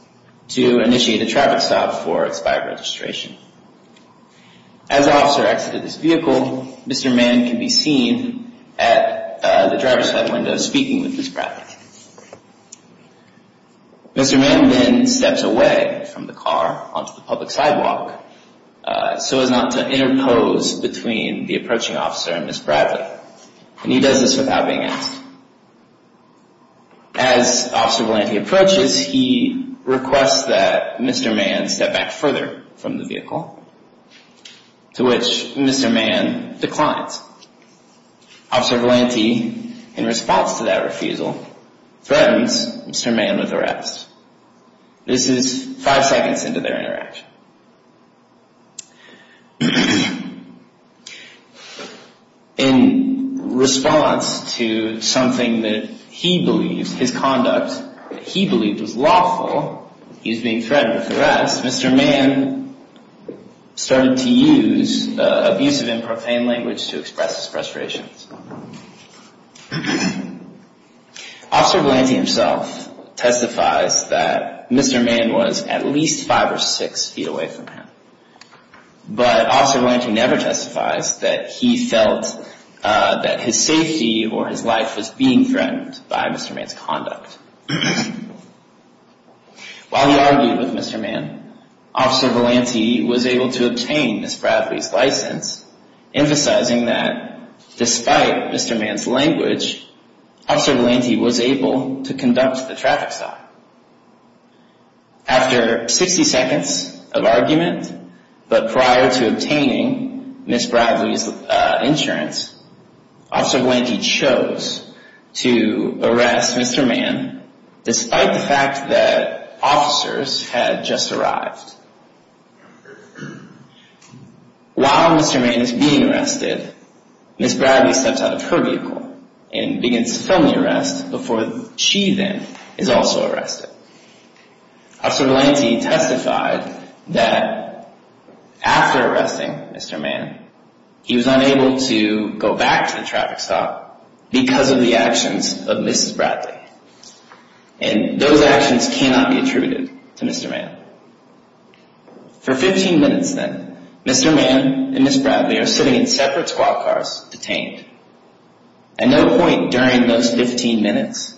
524-0413, Peekle v. Benjamin Mann 524-0413, Peekle v. Benjamin Mann 524-0413, Peekle v. Benjamin Mann 524-0413, Peekle v. Benjamin Mann 524-0413, Peekle v. Benjamin Mann 524-0413, Peekle v. Benjamin Mann Mr. Mann then steps away from the car onto the public sidewalk so as not to interpose between the approaching officer and Ms. Bradley. And he does this without being asked. As Officer Valante approaches, he requests that Mr. Mann step back further from the vehicle, to which Mr. Mann declines. Officer Valante, in response to that refusal, threatens Mr. Mann with arrest. This is five seconds into their interaction. In response to something that he believed, his conduct that he believed was lawful, he's being threatened with arrest. Mr. Mann started to use abusive and profane language to express his frustrations. Officer Valante himself testifies that Mr. Mann was at least five or six feet away from him. But Officer Valante never testifies that he felt that his safety or his life was being threatened by Mr. Mann's conduct. While he argued with Mr. Mann, Officer Valante was able to obtain Ms. Bradley's license, emphasizing that despite Mr. Mann's language, Officer Valante was able to conduct the traffic stop. After 60 seconds of argument, but prior to obtaining Ms. Bradley's insurance, Officer Valante chose to arrest Mr. Mann, despite the fact that officers had just arrived. While Mr. Mann is being arrested, Ms. Bradley steps out of her vehicle and begins filming the arrest before she then is also arrested. Officer Valante testified that after arresting Mr. Mann, he was unable to go back to the traffic stop because of the actions of Mrs. Bradley. And those actions cannot be attributed to Mr. Mann. For 15 minutes then, Mr. Mann and Ms. Bradley are sitting in separate squad cars, detained. At no point during those 15 minutes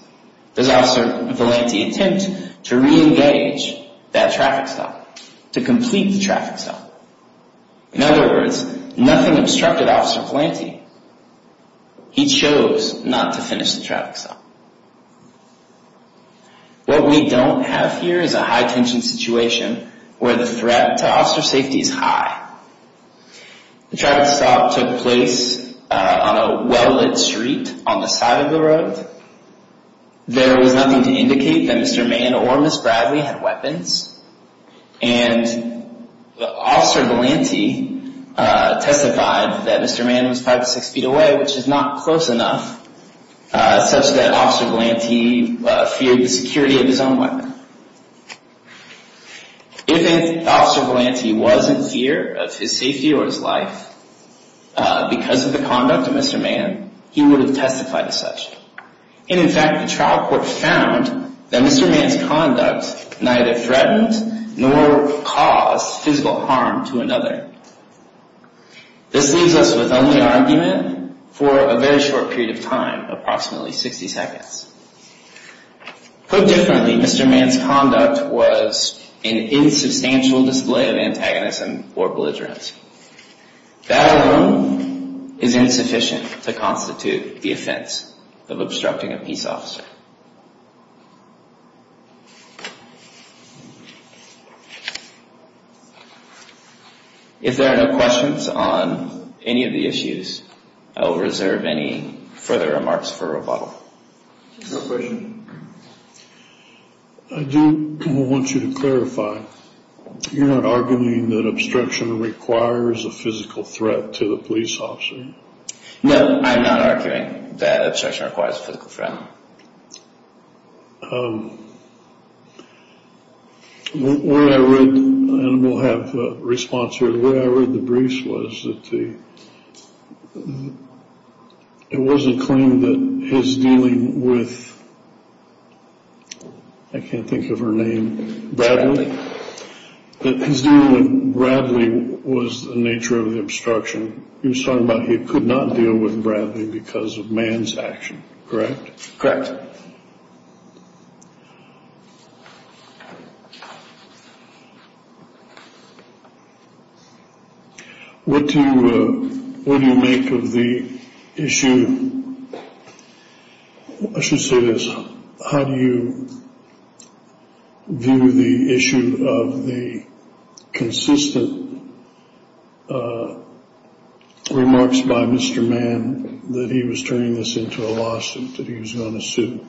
does Officer Valante attempt to re-engage that traffic stop, to complete the traffic stop. In other words, nothing obstructed Officer Valante. He chose not to finish the traffic stop. What we don't have here is a high-tension situation where the threat to officer safety is high. The traffic stop took place on a well-lit street on the side of the road. There was nothing to indicate that Mr. Mann or Ms. Bradley had weapons. And Officer Valante testified that Mr. Mann was 5 to 6 feet away, which is not close enough, such that Officer Valante feared the security of his own weapon. If Officer Valante wasn't here, of his safety or his life, because of the conduct of Mr. Mann, he would have testified as such. And in fact, the trial court found that Mr. Mann's conduct neither threatened nor caused physical harm to another. This leaves us with only argument for a very short period of time, approximately 60 seconds. Put differently, Mr. Mann's conduct was an insubstantial display of antagonism or belligerence. That alone is insufficient to constitute the offense of obstructing a peace officer. If there are no questions on any of the issues, I will reserve any further remarks for rebuttal. No questions. I do want you to clarify. You're not arguing that obstruction requires a physical threat to the police officer? No, I'm not arguing that obstruction requires a physical threat. What I read, and we'll have a response here, what I read in the briefs was that it was a claim that his dealing with, I can't think of her name, Bradley, that his dealing with Bradley was the nature of the obstruction. You're talking about he could not deal with Bradley because of Mann's action, correct? What do you make of the issue, I should say this, how do you view the issue of the consistent remarks by Mr. Mann that he was turning this into a lawsuit, that he was going to sue?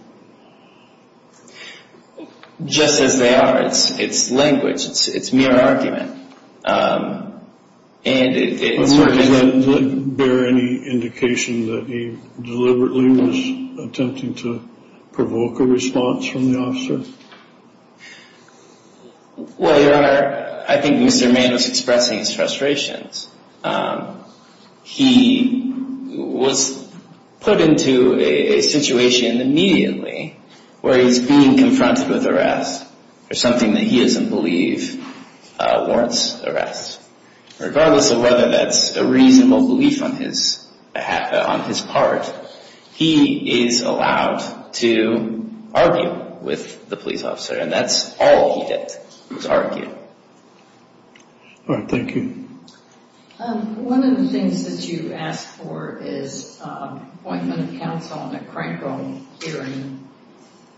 Just as they are. It's language. It's mere argument. Does that bear any indication that he deliberately was attempting to provoke a response from the officer? Well, Your Honor, I think Mr. Mann was expressing his frustrations. He was put into a situation immediately where he's being confronted with arrest for something that he doesn't believe warrants arrest. Regardless of whether that's a reasonable belief on his part, he is allowed to argue with the police officer, and that's all he did was argue. All right, thank you. One of the things that you asked for is appointment of counsel on a crankle hearing.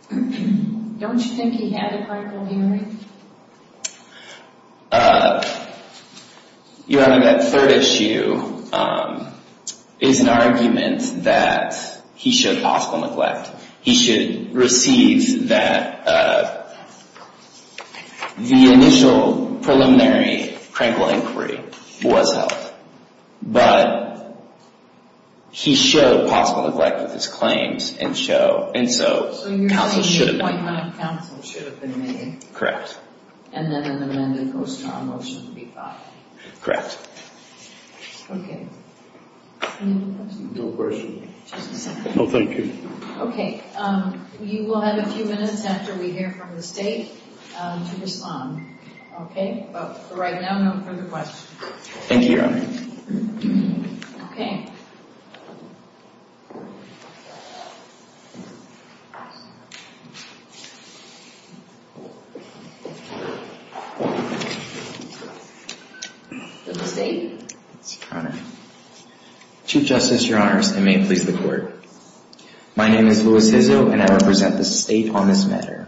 Don't you think he had a crankle hearing? Your Honor, that third issue is an argument that he showed possible neglect. He should receive that the initial preliminary crankle inquiry was held, but he showed possible neglect with his claims, and so counsel should have been made. Correct. And then an amended post-trial motion would be filed. Correct. Okay. Any other questions? No questions. Just a second. No, thank you. Okay, you will have a few minutes after we hear from the State to respond. Okay? But for right now, no further questions. Thank you, Your Honor. Okay. The State. Your Honor. Chief Justice, Your Honors, and may it please the Court. My name is Louis Hizzo, and I represent the State on this matter.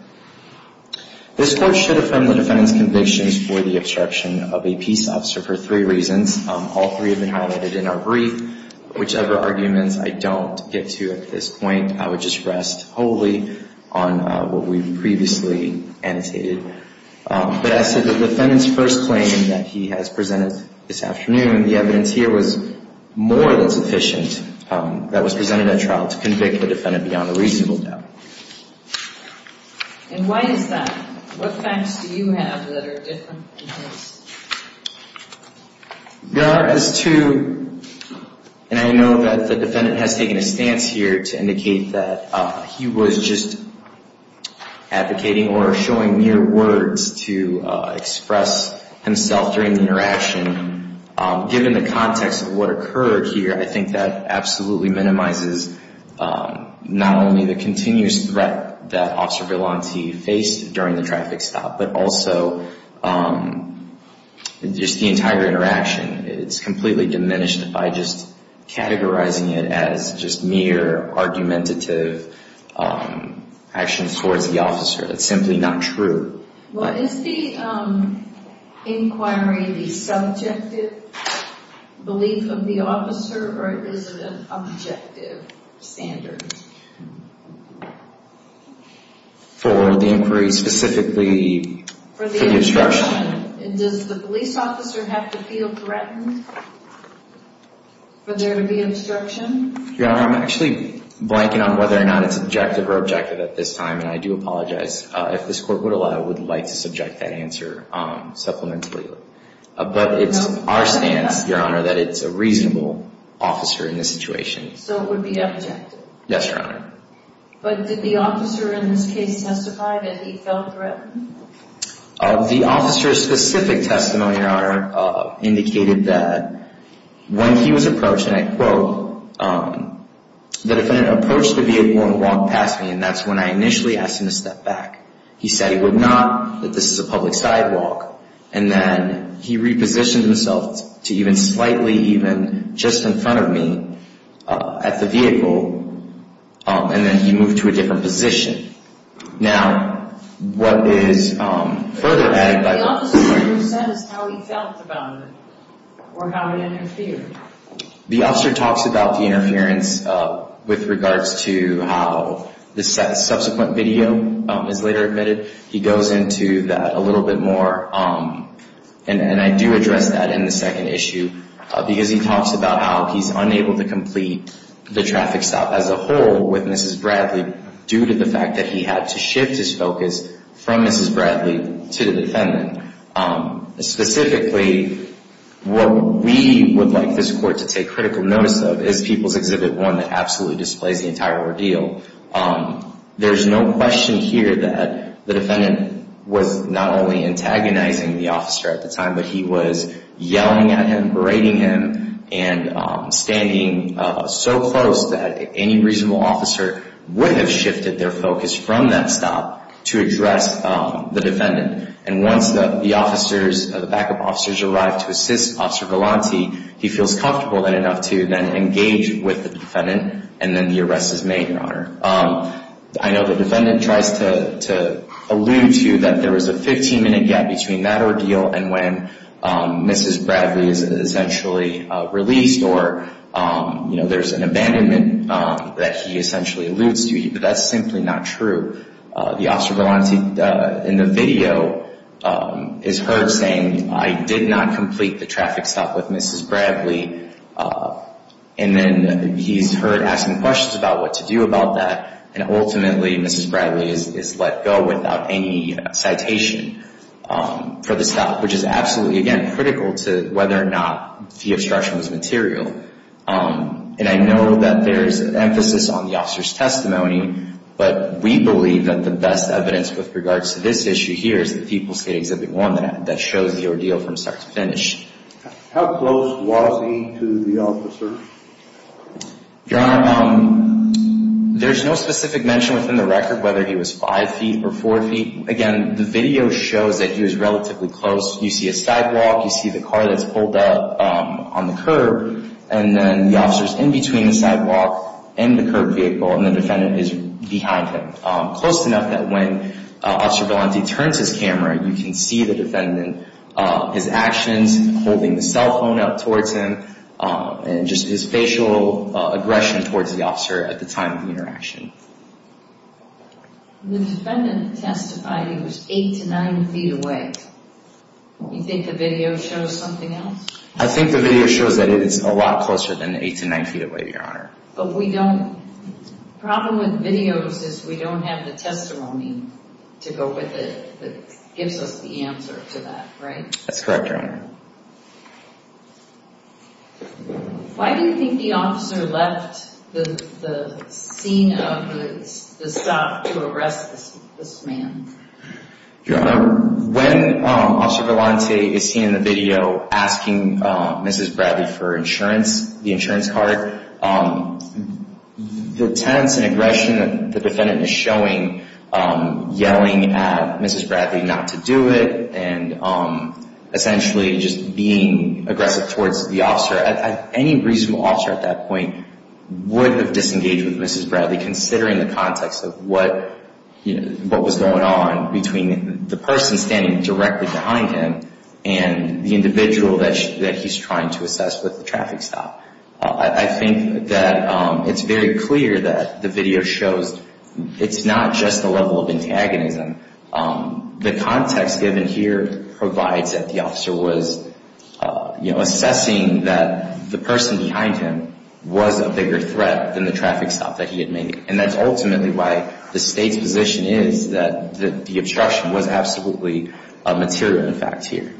This Court should affirm the defendant's convictions for the obstruction of a peace officer for three reasons. All three have been highlighted in our brief. Whichever arguments I don't get to at this point, I would just rest wholly on what we've previously annotated. But as to the defendant's first claim that he has presented this afternoon, the evidence here was more than sufficient that was presented at trial to convict the defendant beyond a reasonable doubt. And why is that? What facts do you have that are different than his? Your Honor, as to, and I know that the defendant has taken a stance here to indicate that he was just advocating or showing mere words to express himself during the interaction. Given the context of what occurred here, I think that absolutely minimizes not only the continuous threat that Officer Vellante faced during the traffic stop, but also just the entire interaction. It's completely diminished by just categorizing it as just mere argumentative actions towards the officer. That's simply not true. Well, is the inquiry the subjective belief of the officer, or is it an objective standard? For the inquiry specifically for the obstruction? Does the police officer have to feel threatened for there to be obstruction? Your Honor, I'm actually blanking on whether or not it's objective or objective at this time, and I do apologize. If this Court would allow, I would like to subject that answer supplementarily. But it's our stance, Your Honor, that it's a reasonable officer in this situation. So it would be objective? Yes, Your Honor. But did the officer in this case testify that he felt threatened? The officer's specific testimony, Your Honor, indicated that when he was approached, and I quote, the defendant approached the vehicle and walked past me, and that's when I initially asked him to step back. He said he would not, that this is a public sidewalk. And then he repositioned himself to even slightly even just in front of me at the vehicle, and then he moved to a different position. Now, what is further added by the officer who says how he felt about it or how he interfered? The officer talks about the interference with regards to how the subsequent video is later admitted. He goes into that a little bit more, and I do address that in the second issue, because he talks about how he's unable to complete the traffic stop as a whole with Mrs. Bradley due to the fact that he had to shift his focus from Mrs. Bradley to the defendant. Specifically, what we would like this Court to take critical notice of is People's Exhibit 1 that absolutely displays the entire ordeal. There's no question here that the defendant was not only antagonizing the officer at the time, but he was yelling at him, berating him, and standing so close that any reasonable officer would have shifted their focus from that stop to address the defendant. And once the backup officers arrive to assist Officer Galanti, he feels comfortable enough to then engage with the defendant, and then the arrest is made in honor. I know the defendant tries to allude to that there was a 15-minute gap between that ordeal and when Mrs. Bradley is essentially released, or there's an abandonment that he essentially alludes to, but that's simply not true. The Officer Galanti in the video is heard saying, I did not complete the traffic stop with Mrs. Bradley, and then he's heard asking questions about what to do about that, and ultimately Mrs. Bradley is let go without any citation for the stop, which is absolutely, again, critical to whether or not the obstruction was material. And I know that there's an emphasis on the officer's testimony, but we believe that the best evidence with regards to this issue here is the People's Exhibit 1 that shows the ordeal from start to finish. How close was he to the officer? Your Honor, there's no specific mention within the record whether he was 5 feet or 4 feet. Again, the video shows that he was relatively close. You see a sidewalk, you see the car that's pulled up on the curb, and then the officer's in between the sidewalk and the curb vehicle, and the defendant is behind him, close enough that when Officer Galanti turns his camera, you can see the defendant, his actions, holding the cell phone up towards him, and just his facial aggression towards the officer at the time of the interaction. The defendant testified he was 8 to 9 feet away. You think the video shows something else? I think the video shows that it is a lot closer than 8 to 9 feet away, Your Honor. The problem with videos is we don't have the testimony to go with it that gives us the answer to that, right? That's correct, Your Honor. Why do you think the officer left the scene of the stop to arrest this man? Your Honor, when Officer Galanti is seen in the video asking Mrs. Bradley for insurance, the insurance card, the tense and aggression that the defendant is showing, yelling at Mrs. Bradley not to do it, and essentially just being aggressive towards the officer, any reasonable officer at that point would have disengaged with Mrs. Bradley, considering the context of what was going on between the person standing directly behind him and the individual that he's trying to assess with the traffic stop. I think that it's very clear that the video shows it's not just the level of antagonism. The context given here provides that the officer was assessing that the person behind him was a bigger threat than the traffic stop that he had made. And that's ultimately why the State's position is that the obstruction was absolutely a material effect here.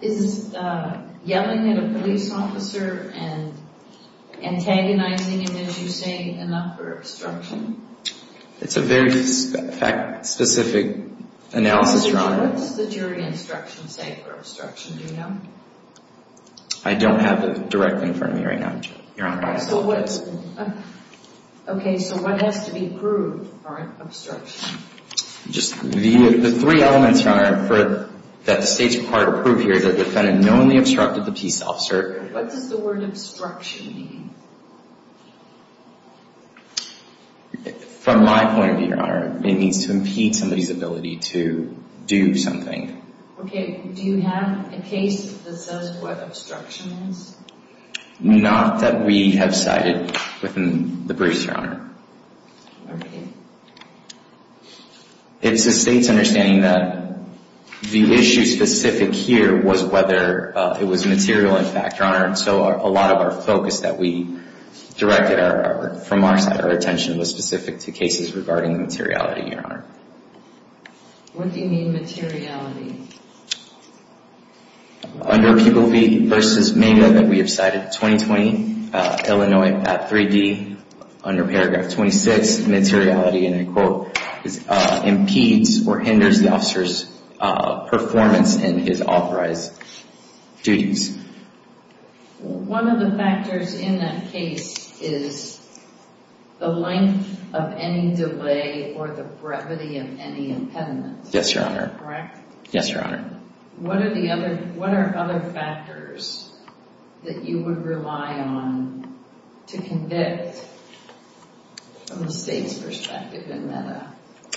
Is yelling at a police officer and antagonizing him, as you say, enough for obstruction? It's a very specific analysis, Your Honor. What does the jury instruction say for obstruction, do you know? I don't have it directly in front of me right now, Your Honor. Okay, so what has to be proved for obstruction? The three elements, Your Honor, that the State's required to prove here is that the defendant knowingly obstructed the peace officer. What does the word obstruction mean? From my point of view, Your Honor, it means to impede somebody's ability to do something. Okay, do you have a case that says what obstruction is? Not that we have cited within the briefs, Your Honor. Okay. It's the State's understanding that the issue specific here was whether it was material in fact, Your Honor, so a lot of our focus that we directed from our side, our attention, was specific to cases regarding materiality, Your Honor. What do you mean, materiality? Under pupil v. Maynard that we have cited, 2020, Illinois at 3D, under paragraph 26, materiality, and I quote, impedes or hinders the officer's performance in his authorized duties. One of the factors in that case is the length of any delay or the brevity of any impediment. Yes, Your Honor. Correct? Yes, Your Honor. What are other factors that you would rely on to convict from the State's perspective in that?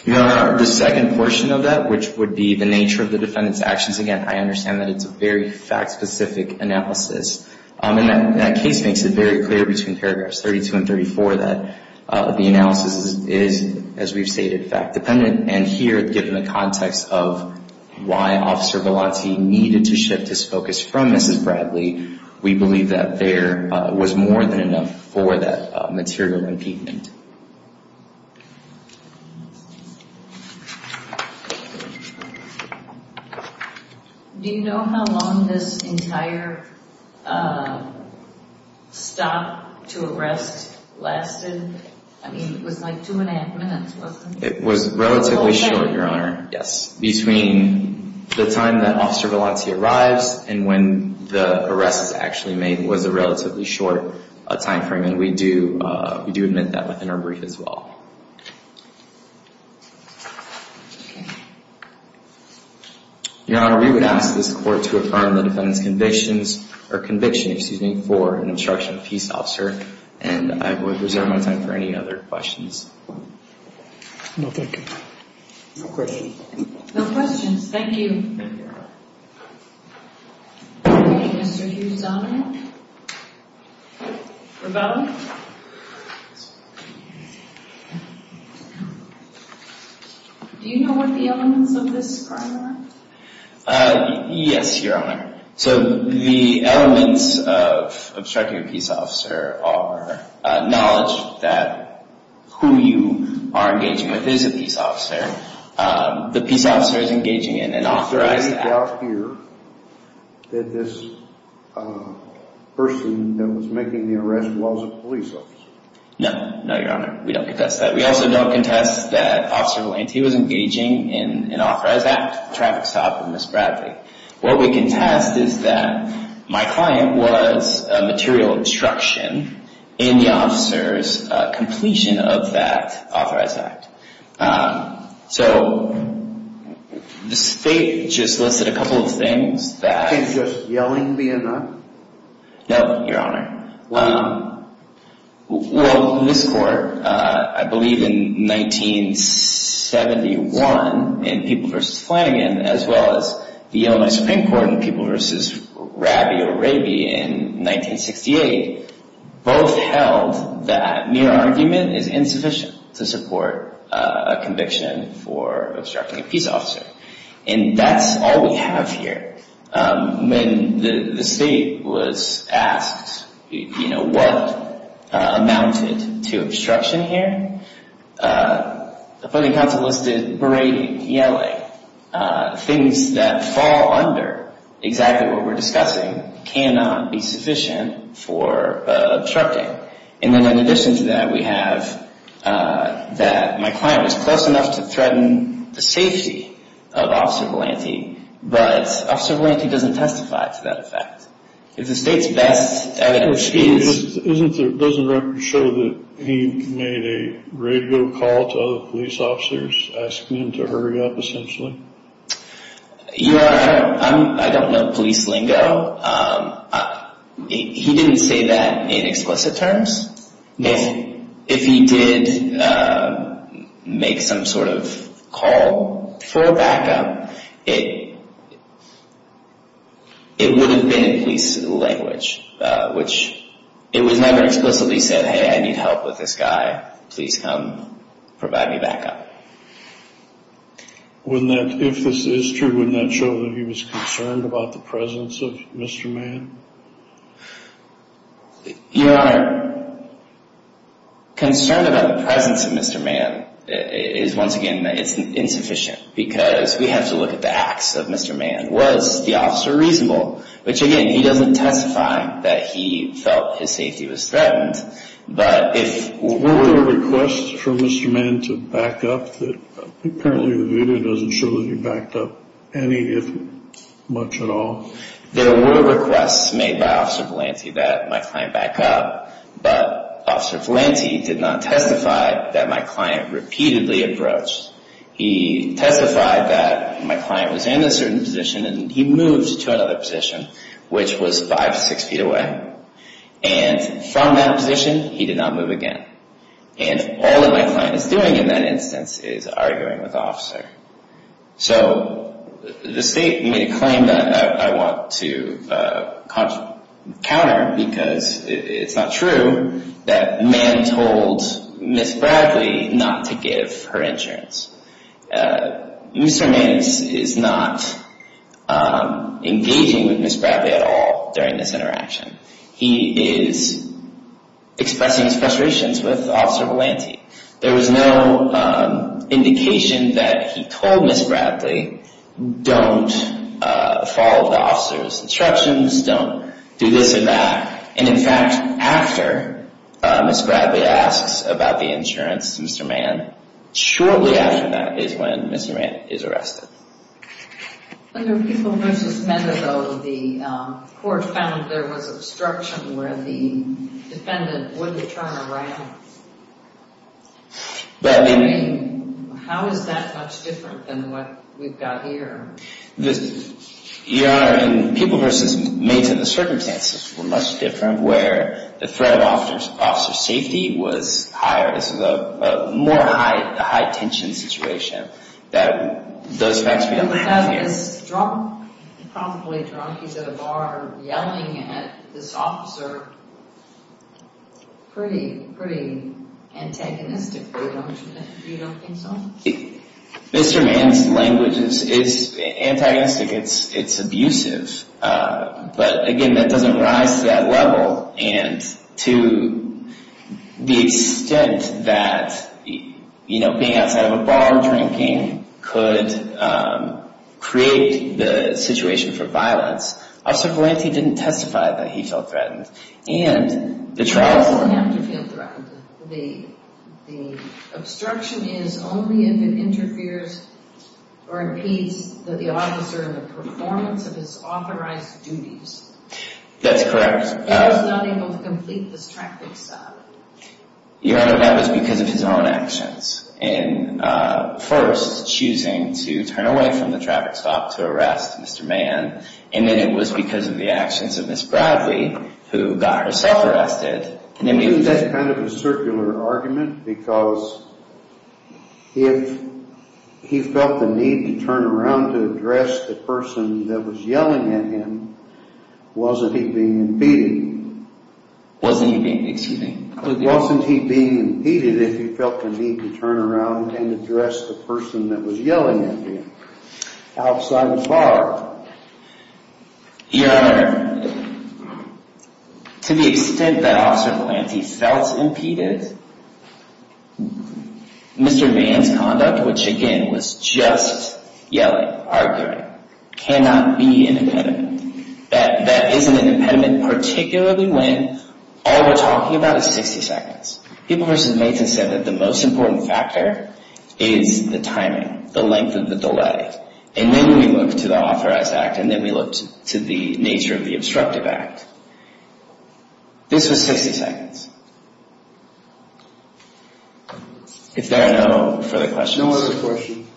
Your Honor, the second portion of that, which would be the nature of the defendant's actions. Again, I understand that it's a very fact-specific analysis, and that case makes it very clear between paragraphs 32 and 34 that the analysis is, as we've stated, fact-dependent. And here, given the context of why Officer Vellante needed to shift his focus from Mrs. Bradley, we believe that there was more than enough for that material impediment. Do you know how long this entire stop to arrest lasted? I mean, it was like two and a half minutes, wasn't it? It was relatively short, Your Honor. Yes. Between the time that Officer Vellante arrives and when the arrest was actually made, it was a relatively short time frame, and we do admit that within our brief as well. Your Honor, we would ask this Court to affirm the defendant's conviction for an obstruction of peace officer, and I would reserve my time for any other questions. No, thank you. No questions. No questions, thank you. Okay, Mr. Hughes-Donovan. Revelle. Do you know what the elements of this crime are? Yes, Your Honor. So the elements of obstructing a peace officer are knowledge that who you are engaging with is a peace officer. The peace officer is engaging in an authorized act. Is there any doubt here that this person that was making the arrest was a police officer? No. No, Your Honor. We don't contest that. We also don't contest that Officer Vellante was engaging in an authorized act, traffic stop of Mrs. Bradley. What we contest is that my client was a material obstruction in the officer's completion of that authorized act. So the State just listed a couple of things that… Just yelling the N-word? No, Your Honor. Why not? Well, this Court, I believe in 1971 in People v. Flanagan, as well as the Illinois Supreme Court in People v. Rabi or Rabi in 1968, both held that mere argument is insufficient to support a conviction for obstructing a peace officer. And that's all we have here. When the State was asked, you know, what amounted to obstruction here, the Funding Council listed berating, yelling. Things that fall under exactly what we're discussing cannot be sufficient for obstructing. And then in addition to that we have that my client was close enough to threaten the safety of Officer Vellante, but Officer Vellante doesn't testify to that fact. If the State's best evidence is… Doesn't the record show that he made a radio call to other police officers asking them to hurry up, essentially? Your Honor, I don't know police lingo. He didn't say that in explicit terms. If he did make some sort of call for backup, it would have been in police language, which it was never explicitly said, hey, I need help with this guy. Please come provide me backup. If this is true, wouldn't that show that he was concerned about the presence of Mr. Mann? Your Honor, concern about the presence of Mr. Mann is, once again, it's insufficient because we have to look at the acts of Mr. Mann. Was the officer reasonable? Which, again, he doesn't testify that he felt his safety was threatened, but if… Were there requests for Mr. Mann to back up? Apparently the video doesn't show that he backed up any, if much at all. There were requests made by Officer Valante that my client back up, but Officer Valante did not testify that my client repeatedly approached. He testified that my client was in a certain position and he moved to another position, which was five to six feet away, and from that position he did not move again. And all that my client is doing in that instance is arguing with the officer. So the state made a claim that I want to counter because it's not true that Mann told Ms. Bradley not to give her insurance. Mr. Mann is not engaging with Ms. Bradley at all during this interaction. He is expressing his frustrations with Officer Valante. There was no indication that he told Ms. Bradley, don't follow the officer's instructions, don't do this or that. And, in fact, after Ms. Bradley asks about the insurance to Mr. Mann, shortly after that is when Mr. Mann is arrested. Under People v. Mender, though, the court found there was obstruction where the defendant wouldn't turn around. I mean, how is that much different than what we've got here? Your Honor, in People v. Mender, the circumstances were much different where the threat of officer safety was higher. This is a more high-tension situation. You have this drunk, probably drunk, he's at a bar yelling at this officer pretty antagonistically, don't you think? You don't think so? Mr. Mann's language is antagonistic. It's abusive. But, again, that doesn't rise to that level. And to the extent that being outside of a bar drinking could create the situation for violence, Officer Valante didn't testify that he felt threatened. He doesn't have to feel threatened. The obstruction is only if it interferes or impedes the officer in the performance of his authorized duties. That's correct. But he was not able to complete this traffic stop. Your Honor, that was because of his own actions. First, choosing to turn away from the traffic stop to arrest Mr. Mann, and then it was because of the actions of Ms. Bradley, who got herself arrested. I think that's kind of a circular argument, because if he felt the need to turn around to address the person that was yelling at him, wasn't he being impeded? Wasn't he being impeded? Wasn't he being impeded if he felt the need to turn around and address the person that was yelling at him outside the bar? Your Honor, to the extent that Officer Valante felt impeded, Mr. Mann's conduct, which, again, was just yelling, arguing, cannot be an impediment. That isn't an impediment, particularly when all we're talking about is 60 seconds. People versus Maintenance said that the most important factor is the timing, the length of the delay. And then we look to the authorized act, and then we look to the nature of the obstructive act. This was 60 seconds. If there are no further questions. No other questions.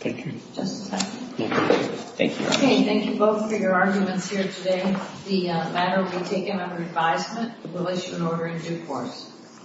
Thank you. Just a second. Thank you. Okay, thank you both for your arguments here today. The matter will be taken under advisement. The bill is to be in order in due course.